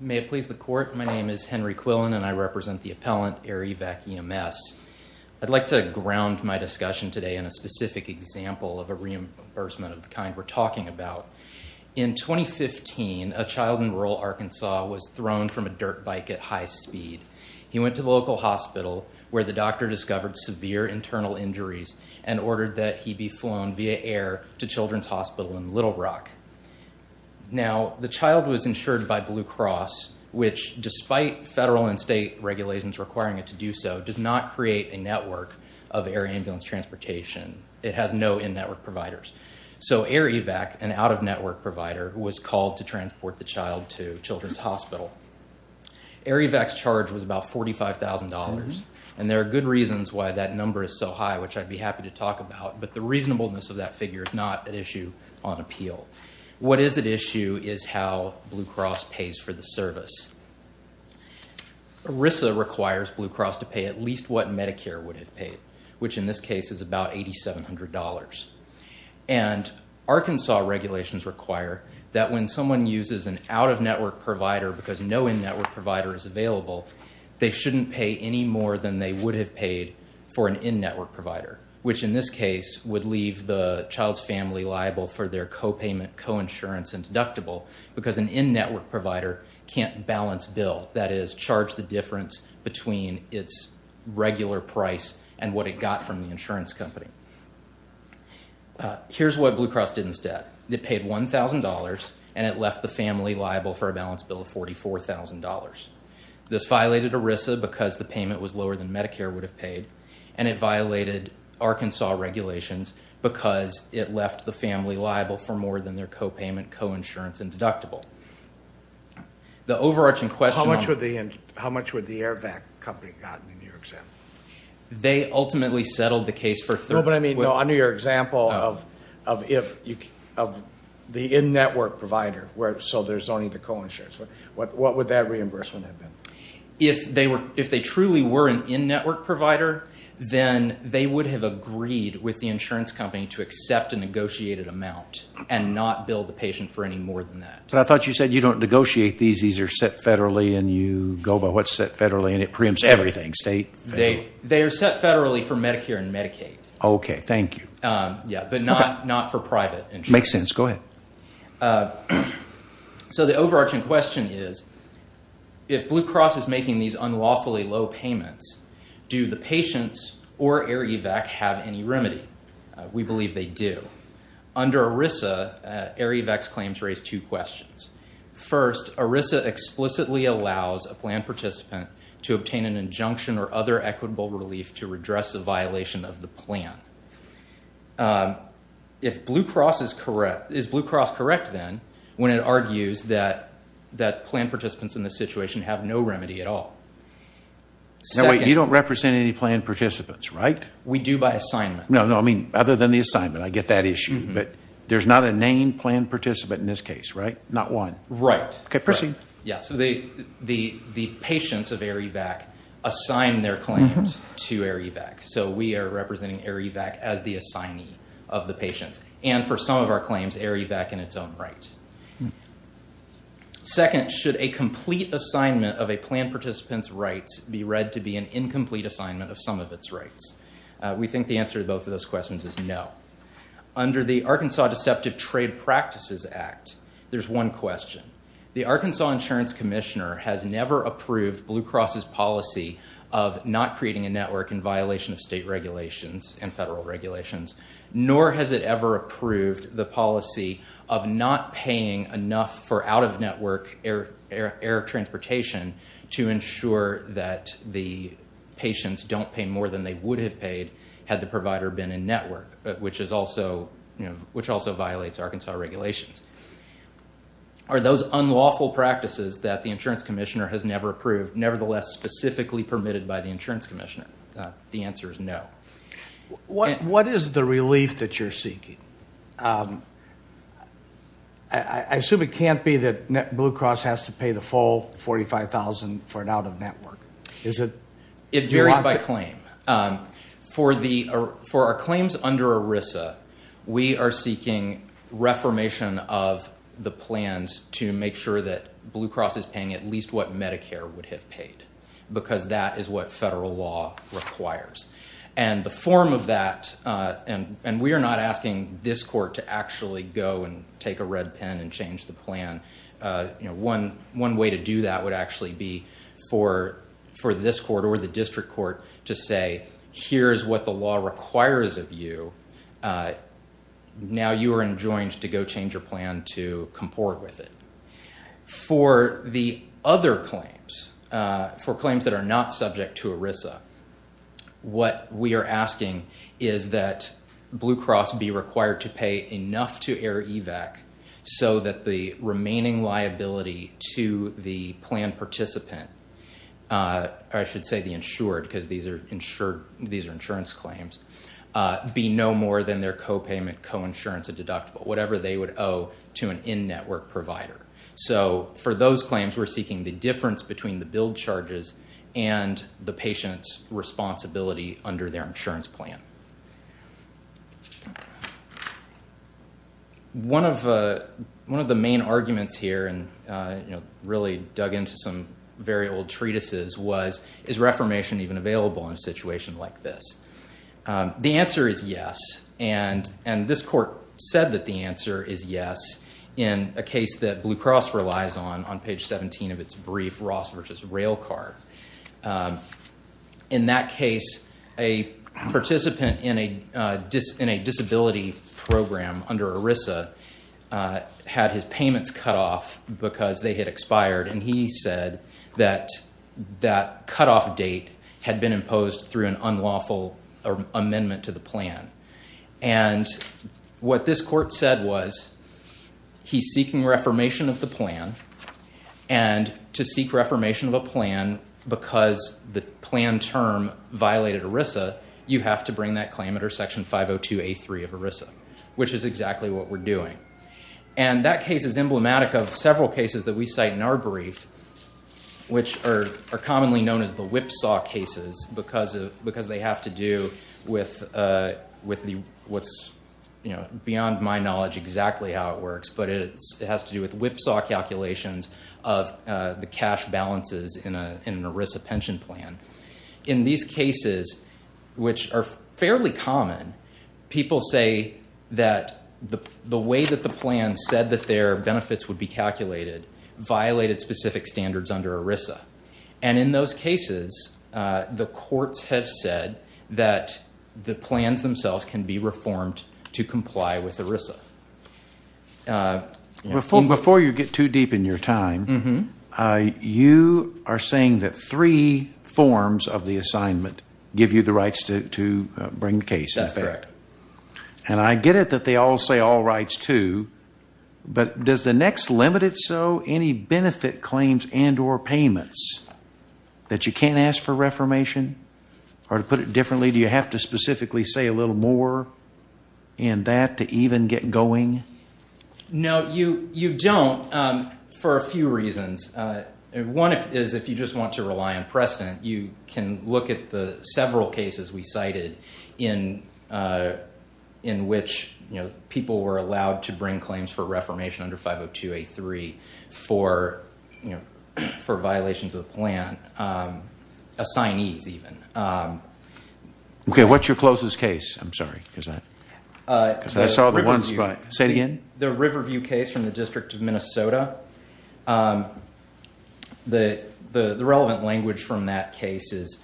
May it please the Court, my name is Henry Quillen and I represent the appellant Air Evac EMS. I'd like to ground my discussion today in a specific example of a reimbursement of the kind we're talking about. In 2015, a child in rural Arkansas was thrown from a dirt bike at high speed. He went to the local hospital where the doctor discovered severe internal injuries and ordered that he be flown via air to Children's Hospital in Little Rock. Now the child was insured by Blue Cross, which despite federal and state regulations requiring it to do so, does not create a network of air ambulance transportation. It has no in-network providers. So Air Evac, an out-of-network provider, was called to transport the child to Children's Hospital. Air Evac's charge was about $45,000, and there are good reasons why that number is so high, which I'd be happy to talk about, but the reasonableness of that figure is not at issue on appeal. What is at issue is how Blue Cross pays for the service. ERISA requires Blue Cross to pay at least what Medicare would have paid, which in this case is about $8,700. And Arkansas regulations require that when someone uses an out-of-network provider because no in-network provider is available, they shouldn't pay any more than they would have paid for an in-network provider, which in this case would leave the child's family liable for their copayment, coinsurance, and deductible because an in-network provider can't balance bill, that is, charge the difference between its regular price and what it got from the insurance company. Here's what Blue Cross did instead. It paid $1,000, and it left the family liable for a balance bill of $44,000. This violated ERISA because the payment was lower than Medicare would have paid, and it violated Arkansas regulations because it left the family liable for more than their copayment, coinsurance, and deductible. The overarching question on... How much would the AIRVAC company have gotten in your example? They ultimately settled the case for... No, but I mean, no, under your example of the in-network provider, so they're zoning the coinsurance, what would that reimbursement have been? If they truly were an in-network provider, then they would have agreed with the insurance company to accept a negotiated amount and not bill the patient for any more than that. But I thought you said you don't negotiate these, these are set federally, and you go by what's set federally, and it preempts everything, state, federal. They are set federally for Medicare and Medicaid. Okay, thank you. Yeah, but not for private insurance. Makes sense. Go ahead. Okay, so the overarching question is, if Blue Cross is making these unlawfully low payments, do the patient or AIRVAC have any remedy? We believe they do. Under ERISA, AIRVAC's claims raise two questions. First, ERISA explicitly allows a plan participant to obtain an injunction or other equitable relief to redress a violation of the plan. If Blue Cross is correct, is Blue Cross correct then when it argues that plan participants in this situation have no remedy at all? No, wait, you don't represent any plan participants, right? We do by assignment. No, no, I mean, other than the assignment, I get that issue, but there's not a named plan participant in this case, right? Not one. Right. Okay, proceed. Yeah, so the patients of AIRVAC assign their claims to AIRVAC. So we are representing AIRVAC as the assignee of the patients. And for some of our claims, AIRVAC in its own right. Second, should a complete assignment of a plan participant's rights be read to be an incomplete assignment of some of its rights? We think the answer to both of those questions is no. Under the Arkansas Deceptive Trade Practices Act, there's one question. The Arkansas Insurance Commissioner has never approved Blue Cross's policy of not creating a network in violation of state regulations and federal regulations, nor has it ever approved the policy of not paying enough for out-of-network air transportation to ensure that the patients don't pay more than they would have paid had the provider been in network, which also violates Arkansas regulations. Are those unlawful practices that the insurance commissioner has never approved nevertheless specifically permitted by the insurance commissioner? The answer is no. What is the relief that you're seeking? I assume it can't be that Blue Cross has to pay the full $45,000 for an out-of-network. Is it? It varies by claim. For our claims under ERISA, we are seeking reformation of the plans to make sure that because that is what federal law requires. The form of that, and we are not asking this court to actually go and take a red pen and change the plan. One way to do that would actually be for this court or the district court to say, here's what the law requires of you. Now you are enjoined to go change your plan to comport with it. For the other claims, for claims that are not subject to ERISA, what we are asking is that Blue Cross be required to pay enough to air EVAC so that the remaining liability to the plan participant, or I should say the insured because these are insurance claims, be no more than their co-payment, co-insurance, and deductible, whatever they would owe to an in-network provider. For those claims, we are seeking the difference between the bill charges and the patient's responsibility under their insurance plan. One of the main arguments here, and really dug into some very old treatises was, is reformation even available in a situation like this? The answer is yes, and this court said that the answer is yes in a case that Blue Cross relies on, on page 17 of its brief, Ross v. Railcard. In that case, a participant in a disability program under ERISA had his payments cut off because they had expired, and he said that that cutoff date had been imposed through an unlawful amendment to the plan. What this court said was, he's seeking reformation of the plan, and to seek reformation of a plan because the plan term violated ERISA, you have to bring that claim under Section 502A3 of ERISA, which is exactly what we're doing. That case is emblematic of several cases that we cite in our brief, which are commonly known as the whipsaw cases, because they have to do with what's beyond my knowledge exactly how it works, but it has to do with whipsaw calculations of the cash balances in an ERISA pension plan. In these cases, which are fairly common, people say that the way that the plan said that their cases, the courts have said that the plans themselves can be reformed to comply with ERISA. Before you get too deep in your time, you are saying that three forms of the assignment give you the rights to bring the case, in fact. That's correct. I get it that they all say all rights to, but does the next limited so any benefit claims and or payments that you can't ask for reformation or to put it differently, do you have to specifically say a little more in that to even get going? No, you don't for a few reasons. One is if you just want to rely on precedent, you can look at the several cases we cited in which people were allowed to bring claims for reformation under 502A3 for violations of the plan, assignees even. What's your closest case? I'm sorry, because I saw the ones, but say it again. The Riverview case from the District of Minnesota, the relevant language from that case is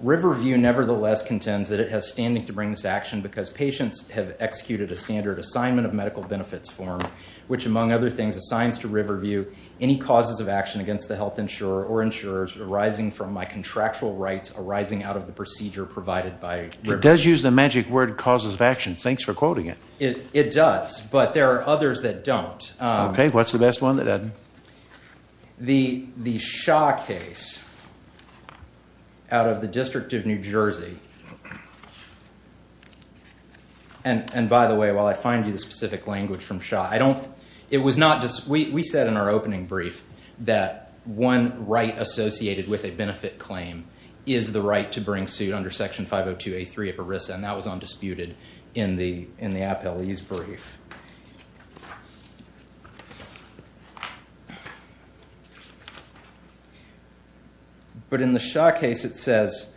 Riverview nevertheless contends that it has standing to bring this action because patients have executed a standard assignment of medical benefits form, which among other things, assigns to Riverview any causes of action against the health insurer or insurers arising from my contractual rights arising out of the procedure provided by Riverview. It does use the magic word causes of action. Thanks for quoting it. It does, but there are others that don't. What's the best one? Go ahead, Ed. The Shaw case out of the District of New Jersey, and by the way, while I find you the specific language from Shaw, we said in our opening brief that one right associated with a benefit claim is the right to bring suit under Section 502A3 of ERISA, and that was But in the Shaw case, it says,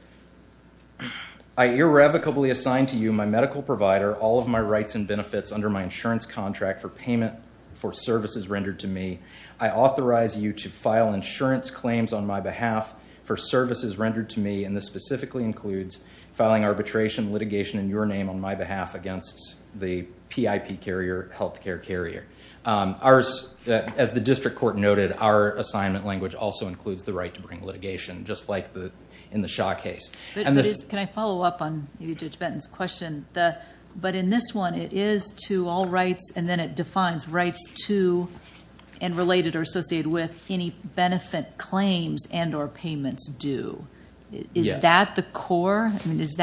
I irrevocably assign to you, my medical provider, all of my rights and benefits under my insurance contract for payment for services rendered to me. I authorize you to file insurance claims on my behalf for services rendered to me, and this specifically includes filing arbitration litigation in your name on my behalf against the PIP carrier, healthcare carrier. As the district court noted, our assignment language also includes the right to bring litigation, just like in the Shaw case. Can I follow up on Judge Benton's question? In this one, it is to all rights, and then it defines rights to and related or associated with any benefit claims and or payments due. Is that the core? Does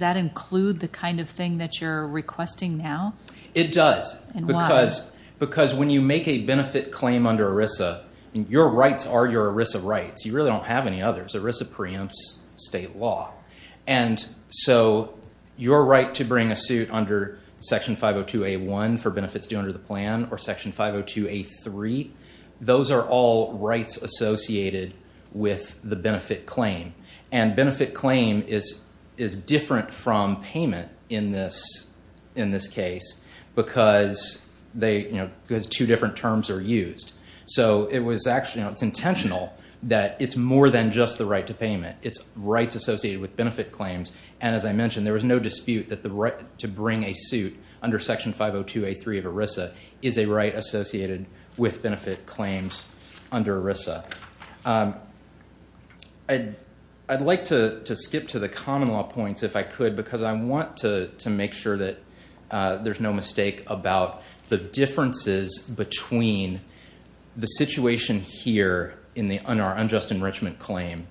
that include the kind of thing that you're requesting now? It does. And why? Because when you make a benefit claim under ERISA, your rights are your ERISA rights. You really don't have any others. ERISA preempts state law, and so your right to bring a suit under Section 502A1 for benefits due under the plan or Section 502A3, those are all rights associated with the benefit claim, and benefit claim is different from payment in this case because two different terms are used. So it's intentional that it's more than just the right to payment. It's rights associated with benefit claims, and as I mentioned, there was no dispute that the right to bring a suit under Section 502A3 of ERISA is a right associated with benefit claims under ERISA. I'd like to skip to the common law points if I could because I want to make sure that there's no mistake about the differences between the situation here in the unjust enrichment claim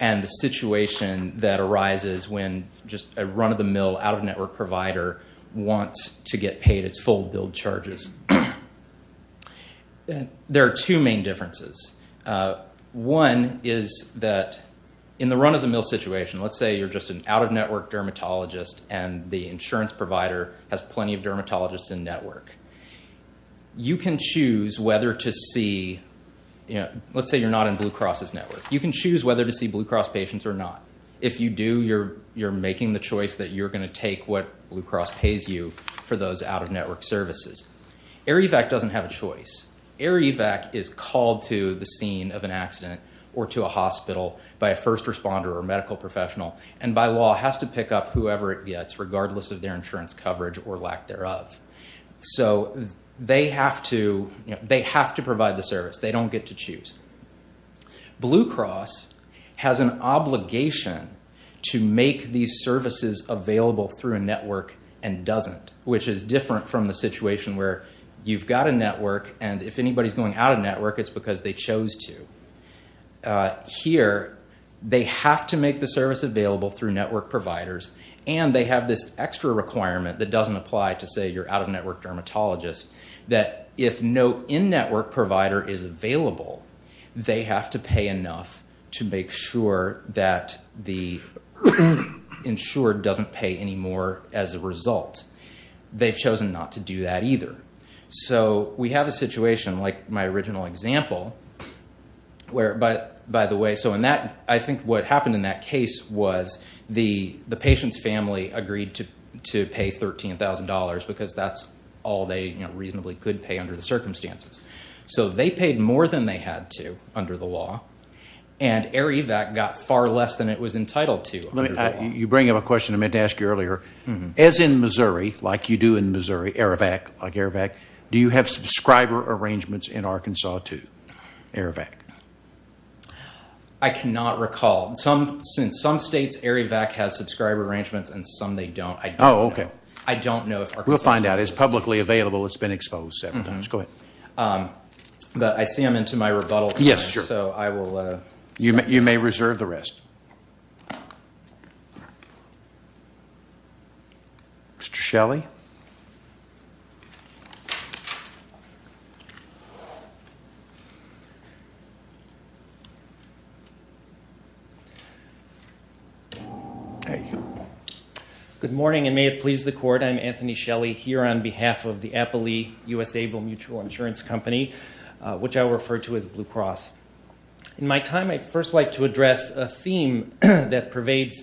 and the situation that arises when just a run-of-the-mill, out-of-network provider issues. There are two main differences. One is that in the run-of-the-mill situation, let's say you're just an out-of-network dermatologist and the insurance provider has plenty of dermatologists in network. You can choose whether to see, let's say you're not in Blue Cross's network. You can choose whether to see Blue Cross patients or not. If you do, you're making the choice that you're going to take what Blue Cross pays you for those out-of-network services. Arivac doesn't have a choice. Arivac is called to the scene of an accident or to a hospital by a first responder or medical professional and by law has to pick up whoever it gets regardless of their insurance coverage or lack thereof. So they have to provide the service. They don't get to choose. Blue Cross has an obligation to make these services available through a network and doesn't, which is different from the situation where you've got a network and if anybody's going out of network, it's because they chose to. Here they have to make the service available through network providers and they have this extra requirement that doesn't apply to say you're out-of-network dermatologist that if no in-network provider is available, they have to pay enough to make sure that the insured doesn't pay any more as a result. They've chosen not to do that either. So we have a situation like my original example where by the way, so in that, I think what happened in that case was the patient's family agreed to pay $13,000 because that's all they reasonably could pay under the circumstances. So they paid more than they had to under the law and Arivac got far less than it was entitled to under the law. You bring up a question I meant to ask you earlier. As in Missouri, like you do in Missouri, Arivac, like Arivac, do you have subscriber arrangements in Arkansas too, Arivac? I cannot recall. In some states, Arivac has subscriber arrangements and some they don't. I don't know. I don't know. We'll find out. It's publicly available. It's been exposed several times. Go ahead. But I see I'm into my rebuttal, so I will. You may reserve the rest. Mr. Shelley? Thank you. Good morning and may it please the court. I'm Anthony Shelley here on behalf of the Appley U.S. Able Mutual Insurance Company, which I refer to as Blue Cross. In my time, I'd first like to address a theme that pervades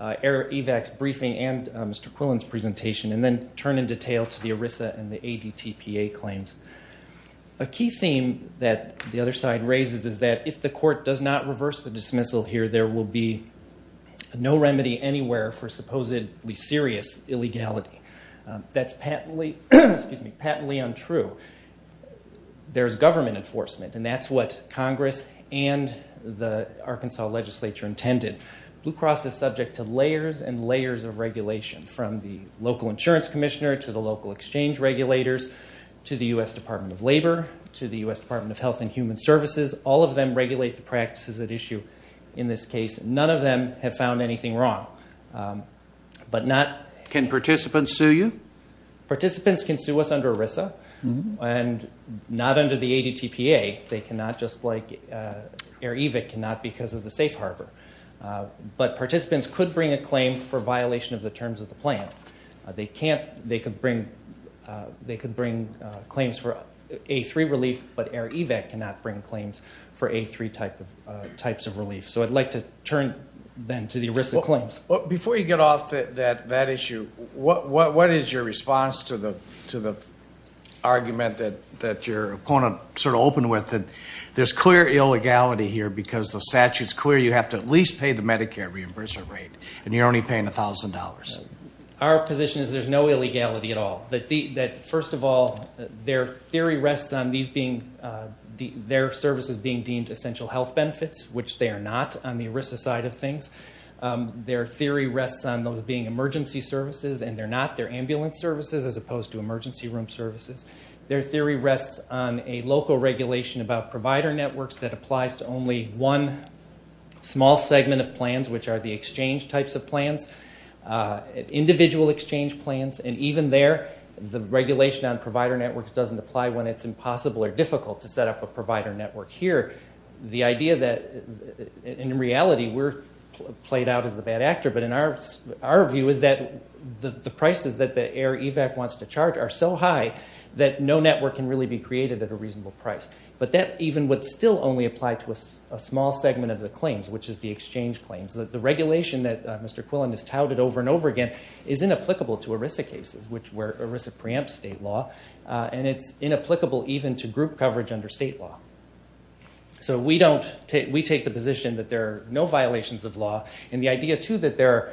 Arivac's briefing and Mr. Quillen's presentation and then turn in detail to the ERISA and the ADTPA claims. A key theme that the other side raises is that if the court does not reverse the dismissal here, there will be no remedy anywhere for supposedly serious illegality. That's patently untrue. There's government enforcement, and that's what Congress and the Arkansas legislature intended. Blue Cross is subject to layers and layers of regulation from the local insurance commissioner to the local exchange regulators to the U.S. Department of Labor to the U.S. Department of Health and Human Services. All of them regulate the practices at issue in this case. None of them have found anything wrong. Can participants sue you? Participants can sue us under ERISA and not under the ADTPA. They cannot just like Arivac cannot because of the safe harbor. But participants could bring a claim for violation of the terms of the plan. They could bring claims for A3 relief, but Arivac cannot bring claims for A3 types of relief. So I'd like to turn then to the ERISA claims. Before you get off that issue, what is your response to the argument that your opponent sort of opened with that there's clear illegality here because the statute's clear you have to at least pay the Medicare reimbursement rate and you're only paying $1,000? Our position is there's no illegality at all. First of all, their theory rests on their services being deemed essential health benefits, which they are not on the ERISA side of things. Their theory rests on those being emergency services, and they're not. They're ambulance services as opposed to emergency room services. Their theory rests on a local regulation about provider networks that applies to only one small segment of plans, which are the exchange types of plans, individual exchange plans. And even there, the regulation on provider networks doesn't apply when it's impossible or difficult to set up a provider network here. The idea that, in reality, we're played out as the bad actor, but our view is that the prices that the AIR EVAC wants to charge are so high that no network can really be created at a reasonable price. But that even would still only apply to a small segment of the claims, which is the exchange claims. The regulation that Mr. Quillen has touted over and over again is inapplicable to ERISA cases, which ERISA preempts state law, and it's inapplicable even to group coverage under state law. So we take the position that there are no violations of law. And the idea, too, that there are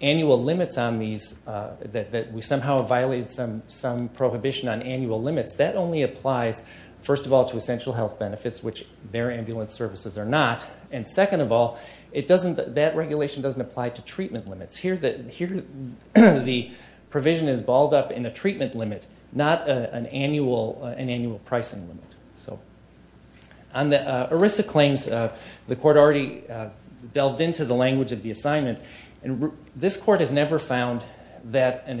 annual limits on these, that we somehow have violated some prohibition on annual limits, that only applies, first of all, to essential health benefits, which their ambulance services are not. And second of all, that regulation doesn't apply to treatment limits. Here, the provision is balled up in a treatment limit, not an annual pricing limit. On the ERISA claims, the court already delved into the language of the assignment, and this court has never found that a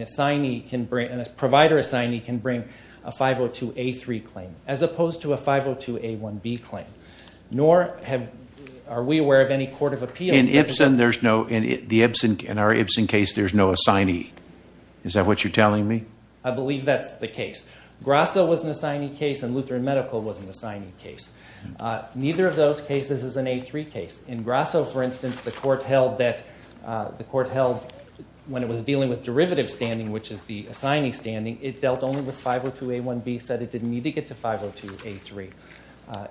provider assignee can bring a 502A3 claim, as opposed to a 502A1B claim. Nor are we aware of any court of appeals. In our Ibsen case, there's no assignee. Is that what you're telling me? I believe that's the case. Grasso was an assignee case, and Lutheran Medical was an assignee case. Neither of those cases is an A3 case. In Grasso, for instance, the court held that when it was dealing with derivative standing, which is the assignee standing, it dealt only with 502A1B, said it didn't need to get to 502A3.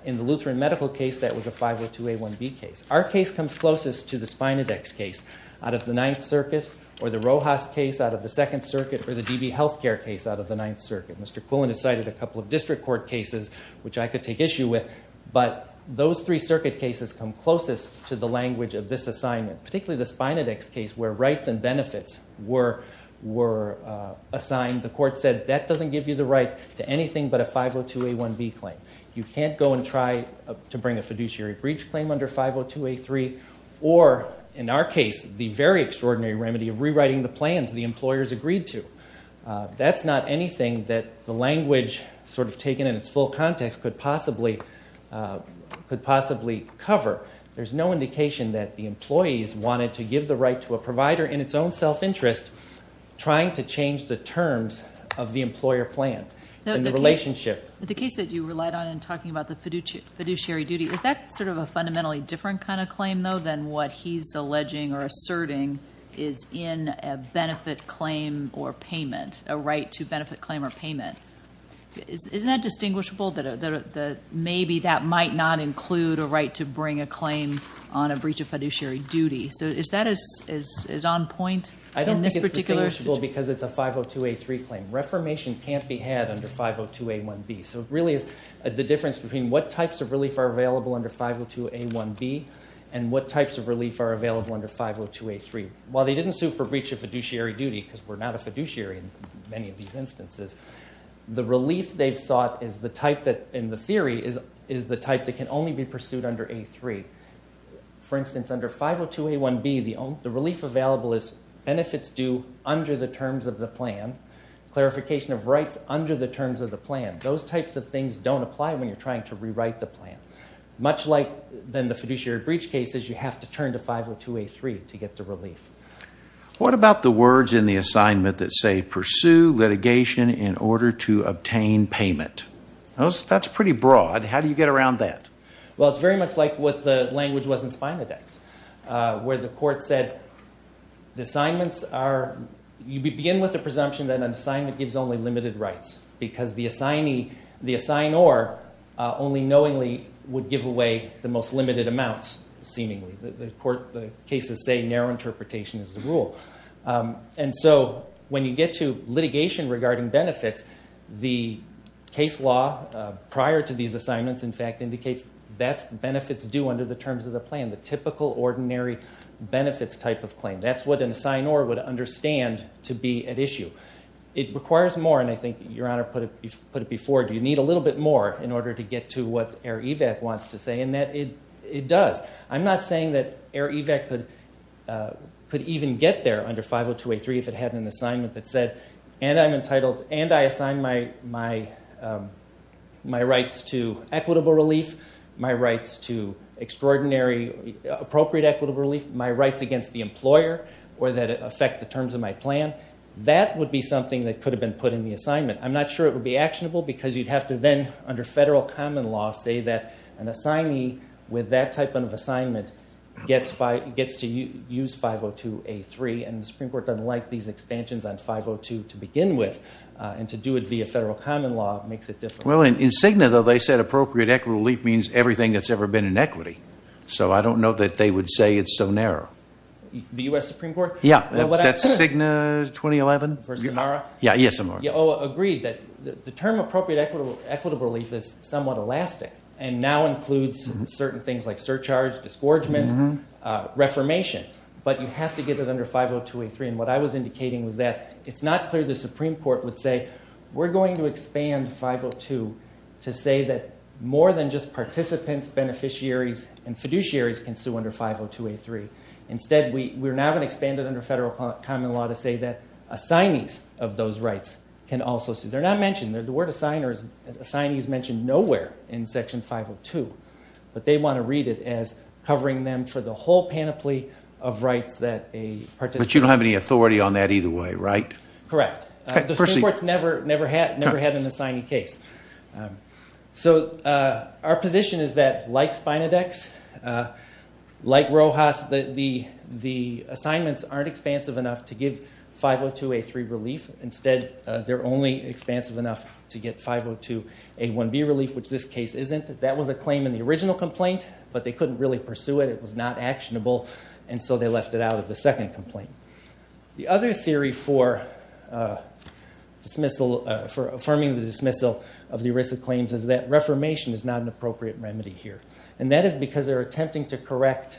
In the Lutheran Medical case, that was a 502A1B case. Our case comes closest to the Spinodex case out of the Ninth Circuit, or the Rojas case out of the Second Circuit, or the DB Healthcare case out of the Ninth Circuit. Mr. Quillen has cited a couple of district court cases which I could take issue with, but those three circuit cases come closest to the language of this assignment, particularly the Spinodex case where rights and benefits were assigned. The court said that doesn't give you the right to anything but a 502A1B claim. You can't go and try to bring a fiduciary breach claim under 502A3, or, in our case, the very extraordinary remedy of rewriting the plans the employers agreed to. That's not anything that the language sort of taken in its full context could possibly cover. There's no indication that the employees wanted to give the right to a provider in its own self-interest, trying to change the terms of the employer plan in the relationship. The case that you relied on in talking about the fiduciary duty, is that sort of a fundamentally different kind of claim, though, than what he's alleging or asserting is in a benefit claim or payment, a right to benefit claim or payment? Isn't that distinguishable that maybe that might not include a right to bring a claim on a breach of fiduciary duty? So is that on point in this particular situation? I don't think it's distinguishable because it's a 502A3 claim. Reformation can't be had under 502A1B. So it really is the difference between what types of relief are available under 502A1B and what types of relief are available under 502A3. While they didn't sue for breach of fiduciary duty, because we're not a fiduciary in many of these instances, the relief they've sought is the type that, in the theory, is the type that can only be pursued under A3. For instance, under 502A1B, the relief available is benefits due under the terms of the plan, clarification of rights under the terms of the plan. Those types of things don't apply when you're trying to rewrite the plan. Much like the fiduciary breach cases, you have to turn to 502A3 to get the relief. What about the words in the assignment that say, pursue litigation in order to obtain payment? That's pretty broad. How do you get around that? Well, it's very much like what the language was in SpinaDex, where the court said the assignments are, you begin with the presumption that an assignment gives only limited rights, because the assignee, the assignor, only knowingly would give away the most limited amounts, seemingly. The court, the cases say narrow interpretation is the rule. And so when you get to litigation regarding benefits, the case law prior to these assignments, in fact, indicates that's benefits due under the terms of the plan, the typical, ordinary benefits type of claim. That's what an assignor would understand to be at issue. It requires more, and I think Your Honor put it before, you need a little bit more in order to get to what AIR-EVAC wants to say, and it does. I'm not saying that AIR-EVAC could even get there under 502A3 if it had an assignment that said, and I'm entitled, and I assign my rights to equitable relief, my rights to extraordinary, appropriate equitable relief, my rights against the employer or that affect the terms of my plan. That would be something that could have been put in the assignment. I'm not sure it would be actionable because you'd have to then, under federal common law, say that an assignee with that type of assignment gets to use 502A3, and the Supreme Court doesn't like these expansions on 502 to begin with, and to do it via federal common law makes it difficult. Well, in Cigna, though, they said appropriate equitable relief means everything that's ever been in equity, so I don't know that they would say it's so narrow. The U.S. Supreme Court? Yeah, that's Cigna 2011. Versus NARA? Yeah, yes, Your Honor. Agreed that the term appropriate equitable relief is somewhat elastic and now includes certain things like surcharge, disgorgement, reformation, but you have to get it under 502A3, and what I was indicating was that it's not clear the Supreme Court would say, we're going to expand 502 to say that more than just participants, beneficiaries, and fiduciaries can sue under 502A3. Instead, we're now going to expand it under federal common law to say that assignees of those rights can also sue. They're not mentioned. The word assignee is mentioned nowhere in Section 502, but they want to read it as covering them for the whole panoply of rights that a participant. But you don't have any authority on that either way, right? Correct. The Supreme Court's never had an assignee case. So our position is that, like Spinodex, like Rojas, the assignments aren't expansive enough to give 502A3 relief. Instead, they're only expansive enough to get 502A1B relief, which this case isn't. That was a claim in the original complaint, but they couldn't really pursue it. It was not actionable, and so they left it out of the second complaint. The other theory for affirming the dismissal of the ERISA claims is that reformation is not an appropriate remedy here, and that is because they're attempting to correct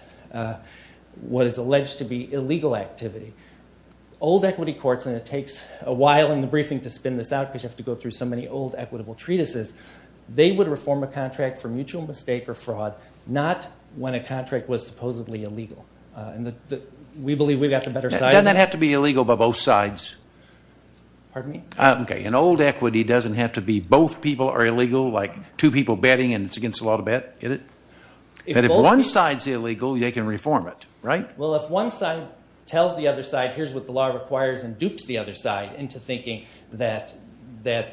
what is alleged to be illegal activity. Old equity courts, and it takes a while in the briefing to spin this out because you have to go through so many old equitable treatises, they would reform a contract for mutual mistake or fraud, not when a contract was supposedly illegal. We believe we've got the better side of that. It doesn't have to be illegal by both sides. Pardon me? Okay, and old equity doesn't have to be both people are illegal, like two people betting and it's against the law to bet, get it? If one side's illegal, they can reform it, right? Well, if one side tells the other side, here's what the law requires and dupes the other side into thinking that the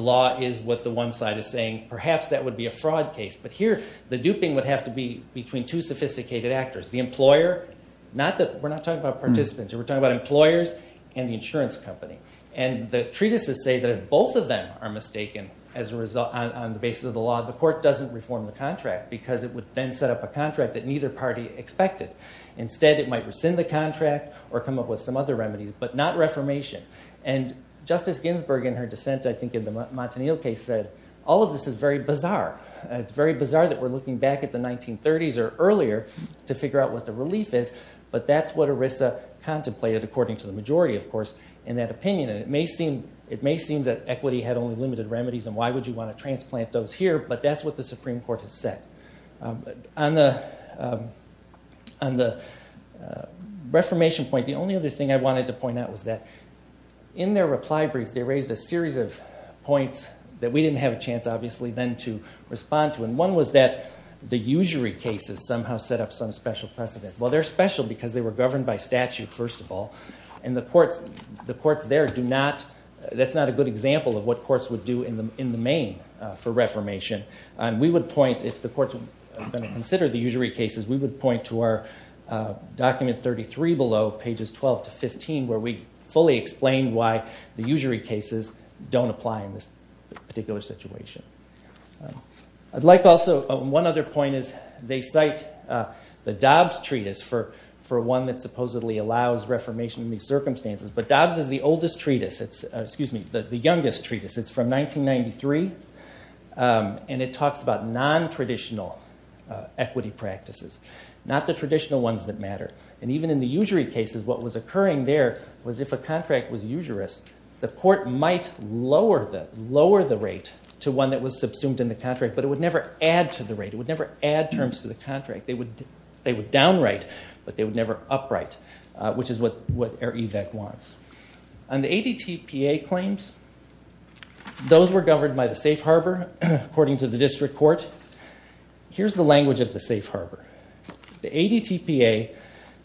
law is what the one side is saying, perhaps that would be a fraud case. But here the duping would have to be between two sophisticated actors, the employer, not that we're not talking about participants, we're talking about employers and the insurance company. And the treatises say that if both of them are mistaken on the basis of the law, the court doesn't reform the contract because it would then set up a contract that neither party expected. Instead, it might rescind the contract or come up with some other remedies, but not reformation. And Justice Ginsburg in her dissent, I think in the Montanil case said, all of this is very bizarre. It's very bizarre that we're looking back at the 1930s or earlier to figure out what the relief is, but that's what ERISA contemplated, according to the majority, of course, in that opinion. And it may seem that equity had only limited remedies and why would you want to transplant those here, but that's what the Supreme Court has said. On the reformation point, the only other thing I wanted to point out was that in their reply brief, they raised a series of points that we didn't have a chance, obviously, then to respond to. And one was that the usury cases somehow set up some special precedent. Well, they're special because they were governed by statute, first of all, and the courts there do not – that's not a good example of what courts would do in the main for reformation. We would point, if the courts were going to consider the usury cases, we would point to our document 33 below, pages 12 to 15, where we fully explain why the usury cases don't apply in this particular situation. I'd like also – one other point is they cite the Dobbs Treatise for one that supposedly allows reformation in these circumstances, but Dobbs is the oldest treatise – excuse me, the youngest treatise. It's from 1993, and it talks about nontraditional equity practices, not the traditional ones that matter. And even in the usury cases, what was occurring there was, if a contract was usurious, the court might lower the rate to one that was subsumed in the contract, but it would never add to the rate. It would never add terms to the contract. They would downright, but they would never upright, which is what EIR-EVAC wants. On the ADTPA claims, those were governed by the safe harbor, according to the district court. Here's the language of the safe harbor. The ADTPA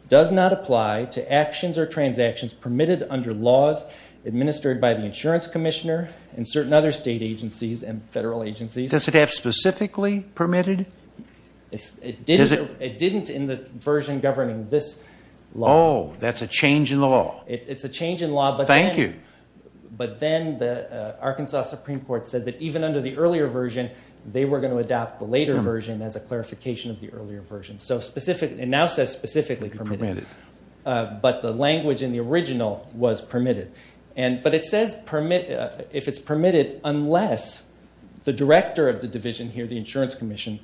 does not apply to actions or transactions permitted under laws administered by the insurance commissioner and certain other state agencies and federal agencies. Does it have specifically permitted? It didn't in the version governing this law. Oh, that's a change in the law. It's a change in law, but then the Arkansas Supreme Court said that even under the earlier version, they were going to adopt the later version as a clarification of the earlier version. It now says specifically permitted, but the language in the original was permitted. But it says if it's permitted unless the director of the division here, the insurance commission,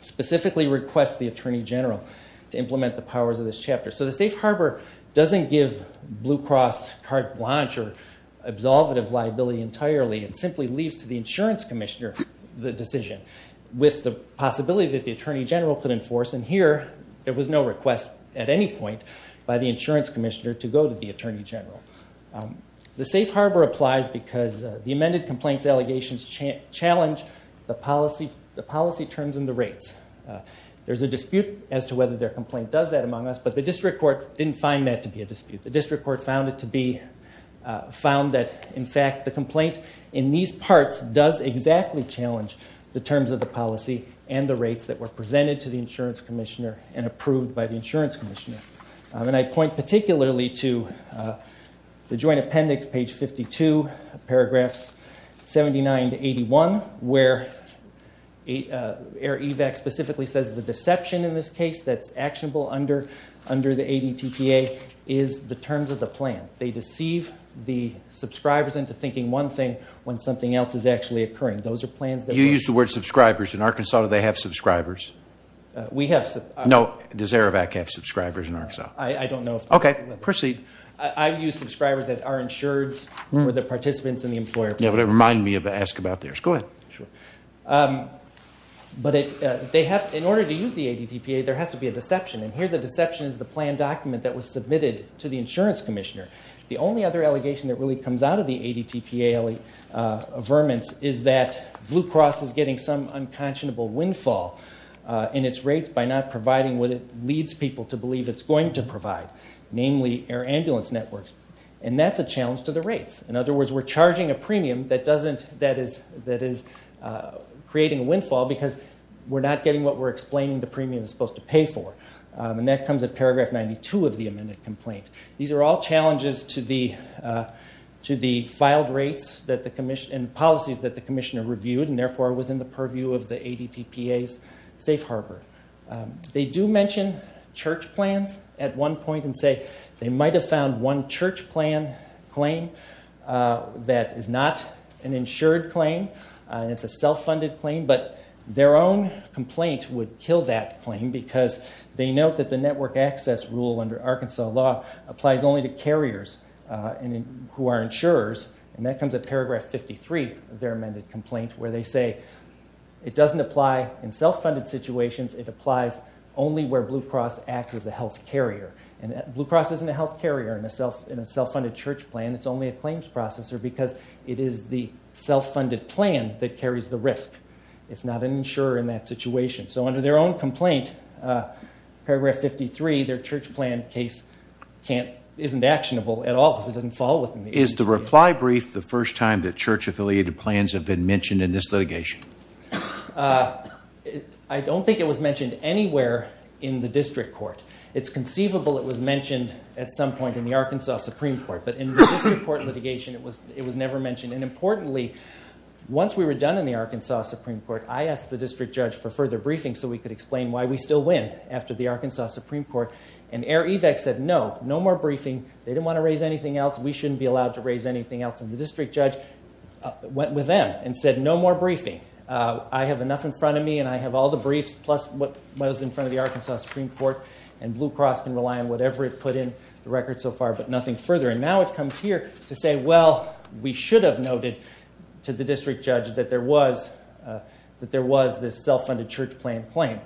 specifically requests the attorney general to implement the powers of this chapter. So the safe harbor doesn't give Blue Cross carte blanche or absolvative liability entirely. It simply leaves to the insurance commissioner the decision with the possibility that the attorney general could enforce, and here there was no request at any point by the insurance commissioner to go to the attorney general. The safe harbor applies because the amended complaints allegations challenge the policy terms and the rates. There's a dispute as to whether their complaint does that among us, but the district court didn't find that to be a dispute. The district court found it to be found that, in fact, the complaint in these parts does exactly challenge the terms of the policy and the rates that were presented to the insurance commissioner and approved by the insurance commissioner. And I point particularly to the joint appendix, page 52, paragraphs 79 to 81, where AIR-EVAC specifically says the deception in this case that's actionable under the ADTPA is the terms of the plan. They deceive the subscribers into thinking one thing when something else is actually occurring. Those are plans that... You used the word subscribers. In Arkansas, do they have subscribers? We have... No. Does AIR-EVAC have subscribers in Arkansas? I don't know if... Okay. Proceed. I use subscribers as our insureds or the participants in the employer plan. Yeah, but it reminded me of ask about theirs. Go ahead. Sure. But in order to use the ADTPA, there has to be a deception, and here the deception is the plan document that was submitted to the insurance commissioner. The only other allegation that really comes out of the ADTPA vermin is that Blue Cross is getting some unconscionable windfall in its rates by not providing what it leads people to believe it's going to provide, namely air ambulance networks, and that's a challenge to the rates. In other words, we're charging a premium that is creating windfall because we're not getting what we're explaining the premium is supposed to pay for, and that comes at paragraph 92 of the amended complaint. These are all challenges to the filed rates and policies that the commissioner reviewed and, therefore, within the purview of the ADTPA's safe harbor. They do mention church plans at one point and say they might have found one church plan claim that is not an insured claim, and it's a self-funded claim, but their own complaint would kill that claim because they note that the network access rule under Arkansas law applies only to carriers who are insurers, and that comes at paragraph 53 of their amended complaint where they say it doesn't apply in self-funded situations. It applies only where Blue Cross acts as a health carrier, and Blue Cross isn't a health carrier in a self-funded church plan. It's only a claims processor because it is the self-funded plan that carries the risk. It's not an insurer in that situation. So under their own complaint, paragraph 53, their church plan case isn't actionable at all because it doesn't fall within the ADTPA. Is the reply brief the first time that church-affiliated plans have been mentioned in this litigation? I don't think it was mentioned anywhere in the district court. It's conceivable it was mentioned at some point in the Arkansas Supreme Court, but in the district court litigation, it was never mentioned. And importantly, once we were done in the Arkansas Supreme Court, I asked the district judge for further briefing so we could explain why we still win after the Arkansas Supreme Court, and Air Evac said no, no more briefing. They didn't want to raise anything else. We shouldn't be allowed to raise anything else, and the district judge went with them and said no more briefing. I have enough in front of me, and I have all the briefs, plus what was in front of the Arkansas Supreme Court, and Blue Cross can rely on whatever it put in the record so far, but nothing further. And now it comes here to say, well, we should have noted to the district judge that there was this self-funded church plan claim.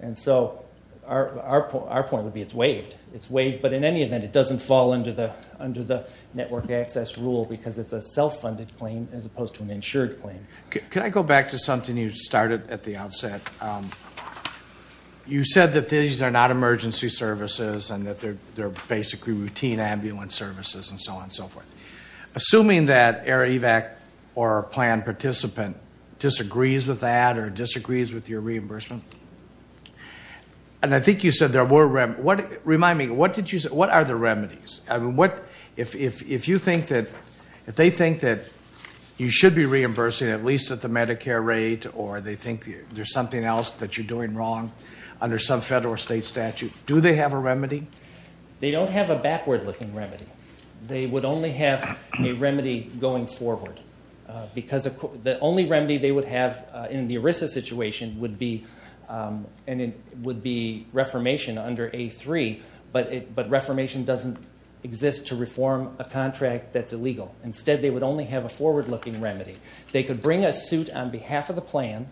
And so our point would be it's waived. It's waived, but in any event, it doesn't fall under the network access rule because it's a self-funded claim as opposed to an insured claim. You said that these are not emergency services and that they're basically routine ambulance services and so on and so forth. Assuming that Air Evac or a planned participant disagrees with that or disagrees with your reimbursement, and I think you said there were remedies. Remind me, what are the remedies? If they think that you should be reimbursing at least at the Medicare rate or they think there's something else that you're doing wrong under some federal or state statute, do they have a remedy? They don't have a backward-looking remedy. They would only have a remedy going forward because the only remedy they would have in the ERISA situation would be reformation under A3, but reformation doesn't exist to reform a contract that's illegal. Instead, they would only have a forward-looking remedy. They could bring a suit on behalf of the plan,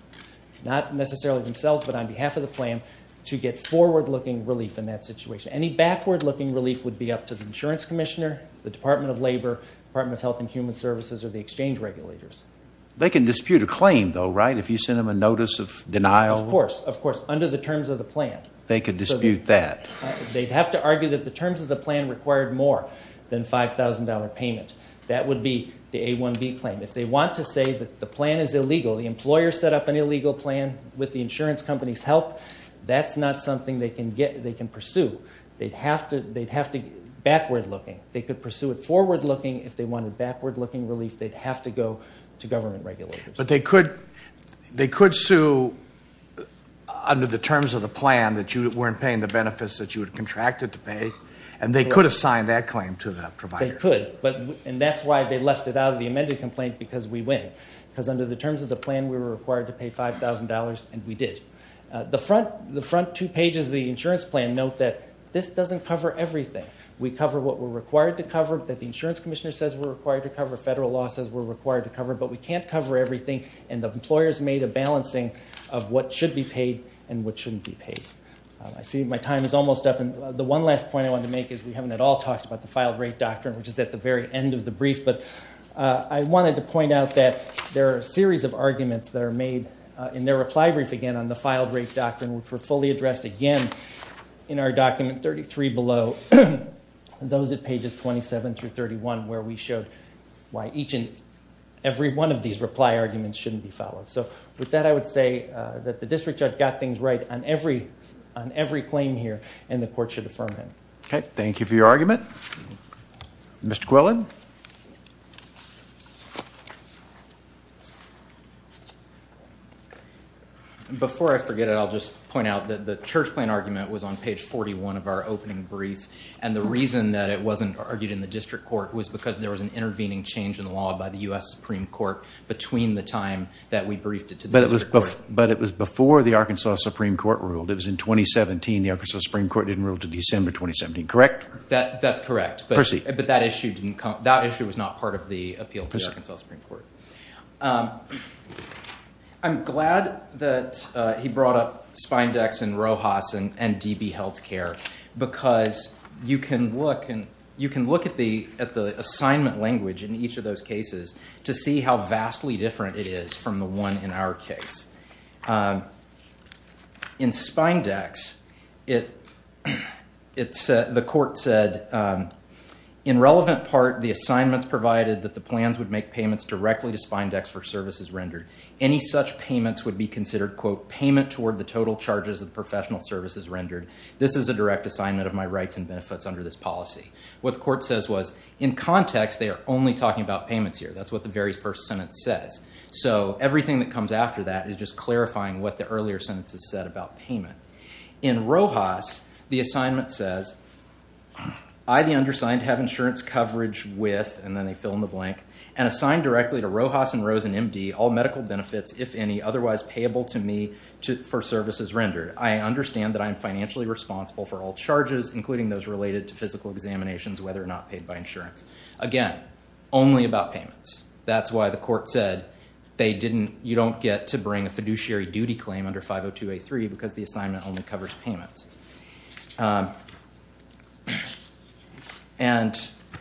not necessarily themselves, but on behalf of the plan to get forward-looking relief in that situation. Any backward-looking relief would be up to the insurance commissioner, the Department of Labor, Department of Health and Human Services, or the exchange regulators. They can dispute a claim, though, right, if you send them a notice of denial? Of course, of course, under the terms of the plan. They could dispute that. They'd have to argue that the terms of the plan required more than a $5,000 payment. That would be the A1B claim. If they want to say that the plan is illegal, the employer set up an illegal plan with the insurance company's help, that's not something they can pursue. They'd have to get backward-looking. They could pursue it forward-looking. If they wanted backward-looking relief, they'd have to go to government regulators. But they could sue under the terms of the plan that you weren't paying the benefits that you had contracted to pay, and they could have signed that claim to the provider. The employer could, and that's why they left it out of the amended complaint, because we win. Because under the terms of the plan, we were required to pay $5,000, and we did. The front two pages of the insurance plan note that this doesn't cover everything. We cover what we're required to cover, that the insurance commissioner says we're required to cover, federal law says we're required to cover, but we can't cover everything, and the employer's made a balancing of what should be paid and what shouldn't be paid. I see my time is almost up. The one last point I wanted to make is we haven't at all talked about the filed-rate doctrine, which is at the very end of the brief, but I wanted to point out that there are a series of arguments that are made in their reply brief again on the filed-rate doctrine, which were fully addressed again in our document 33 below, and those at pages 27 through 31, where we showed why each and every one of these reply arguments shouldn't be followed. So with that, I would say that the district judge got things right on every claim here, and the court should affirm him. Okay. Thank you for your argument. Mr. Quillen? Before I forget it, I'll just point out that the church plan argument was on page 41 of our opening brief, and the reason that it wasn't argued in the district court was because there was an intervening change in the law by the U.S. Supreme Court between the time that we briefed it to the district court. But it was before the Arkansas Supreme Court ruled. It was in 2017. The Arkansas Supreme Court didn't rule until December 2017, correct? That's correct. Percy. But that issue was not part of the appeal to the Arkansas Supreme Court. I'm glad that he brought up Spyndex and Rojas and DB Health Care, because you can look at the assignment language in each of those cases to see how vastly different it is from the one in our case. In Spyndex, the court said, in relevant part, the assignments provided that the plans would make payments directly to Spyndex for services rendered. Any such payments would be considered, quote, payment toward the total charges of professional services rendered. This is a direct assignment of my rights and benefits under this policy. What the court says was, in context, they are only talking about payments here. That's what the very first sentence says. So everything that comes after that is just clarifying what the earlier sentence has said about payment. In Rojas, the assignment says, I, the undersigned, have insurance coverage with, and then they fill in the blank, and assigned directly to Rojas and Rose and MD, all medical benefits, if any, otherwise payable to me for services rendered. I understand that I am financially responsible for all charges, including those related to physical examinations, whether or not paid by insurance. Again, only about payments. That's why the court said you don't get to bring a fiduciary duty claim under 502A3 because the assignment only covers payments. And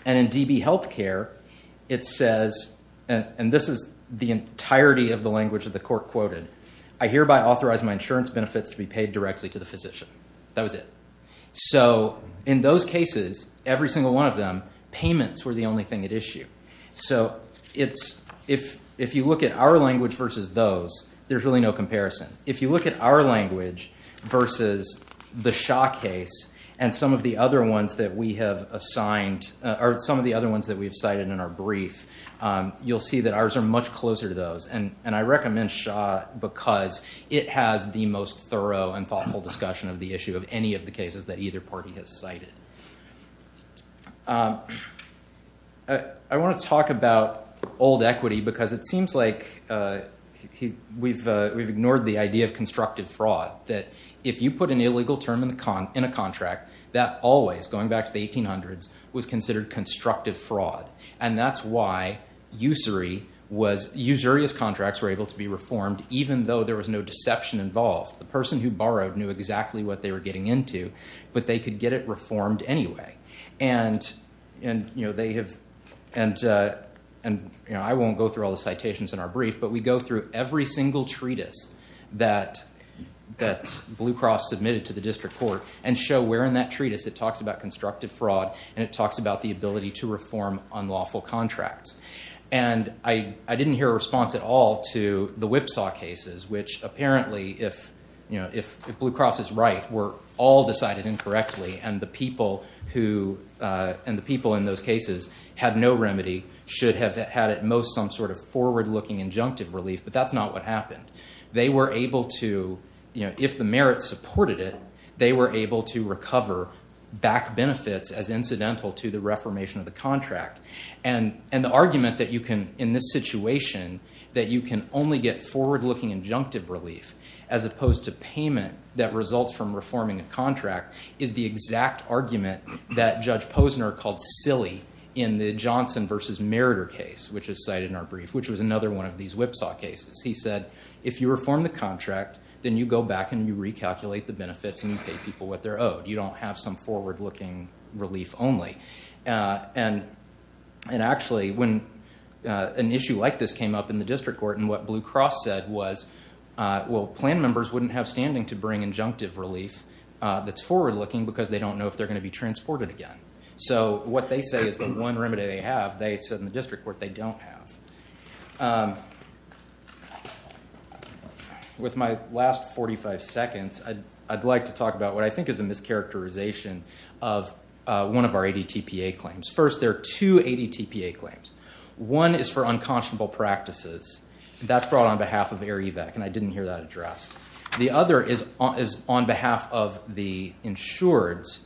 in DB Health Care, it says, and this is the entirety of the language that the court quoted, I hereby authorize my insurance benefits to be paid directly to the physician. That was it. So in those cases, every single one of them, payments were the only thing at issue. So if you look at our language versus those, there's really no comparison. If you look at our language versus the Shaw case and some of the other ones that we have assigned, or some of the other ones that we have cited in our brief, you'll see that ours are much closer to those. And I recommend Shaw because it has the most thorough and thoughtful discussion of the issue of any of the cases that either party has cited. I want to talk about old equity because it seems like we've ignored the idea of constructive fraud, that if you put an illegal term in a contract, that always, going back to the 1800s, was considered constructive fraud. And that's why usury was, usurious contracts were able to be reformed even though there was no deception involved. The person who borrowed knew exactly what they were getting into, but they could get it reformed anyway. And they have, and I won't go through all the citations in our brief, but we go through every single treatise that Blue Cross submitted to the district court and show where in that treatise it talks about constructive fraud and it talks about the ability to reform unlawful contracts. And I didn't hear a response at all to the Whipsaw cases, which apparently, if Blue Cross is right, were all decided incorrectly, and the people in those cases had no remedy, should have had at most some sort of forward-looking injunctive relief, but that's not what happened. They were able to, if the merits supported it, they were able to recover back benefits as incidental to the reformation of the contract. And the argument that you can, in this situation, that you can only get forward-looking injunctive relief, as opposed to payment that results from reforming a contract, is the exact argument that Judge Posner called silly in the Johnson v. Meritor case, which is cited in our brief, which was another one of these Whipsaw cases. He said, if you reform the contract, then you go back and you recalculate the benefits and you pay people what they're owed. You don't have some forward-looking relief only. And actually, when an issue like this came up in the district court and what Blue Cross said was, well, plan members wouldn't have standing to bring injunctive relief that's forward-looking because they don't know if they're going to be transported again. So what they say is the one remedy they have, they said in the district court they don't have. With my last 45 seconds, I'd like to talk about what I think is a mischaracterization of one of our ADTPA claims. First, there are two ADTPA claims. One is for unconscionable practices. That's brought on behalf of AIREVAC, and I didn't hear that addressed. The other is on behalf of the insureds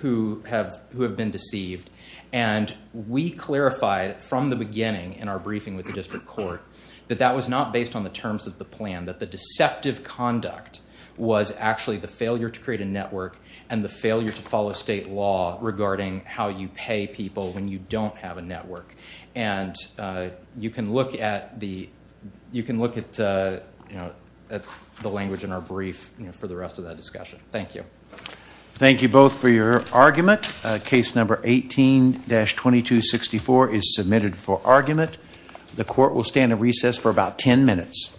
who have been deceived. And we clarified from the beginning in our briefing with the district court that that was not based on the terms of the plan, that the deceptive conduct was actually the failure to create a network and the failure to follow state law regarding how you pay people when you don't have a network. And you can look at the language in our brief for the rest of that discussion. Thank you. Thank you both for your argument. Case number 18-2264 is submitted for argument. The court will stand at recess for about 10 minutes.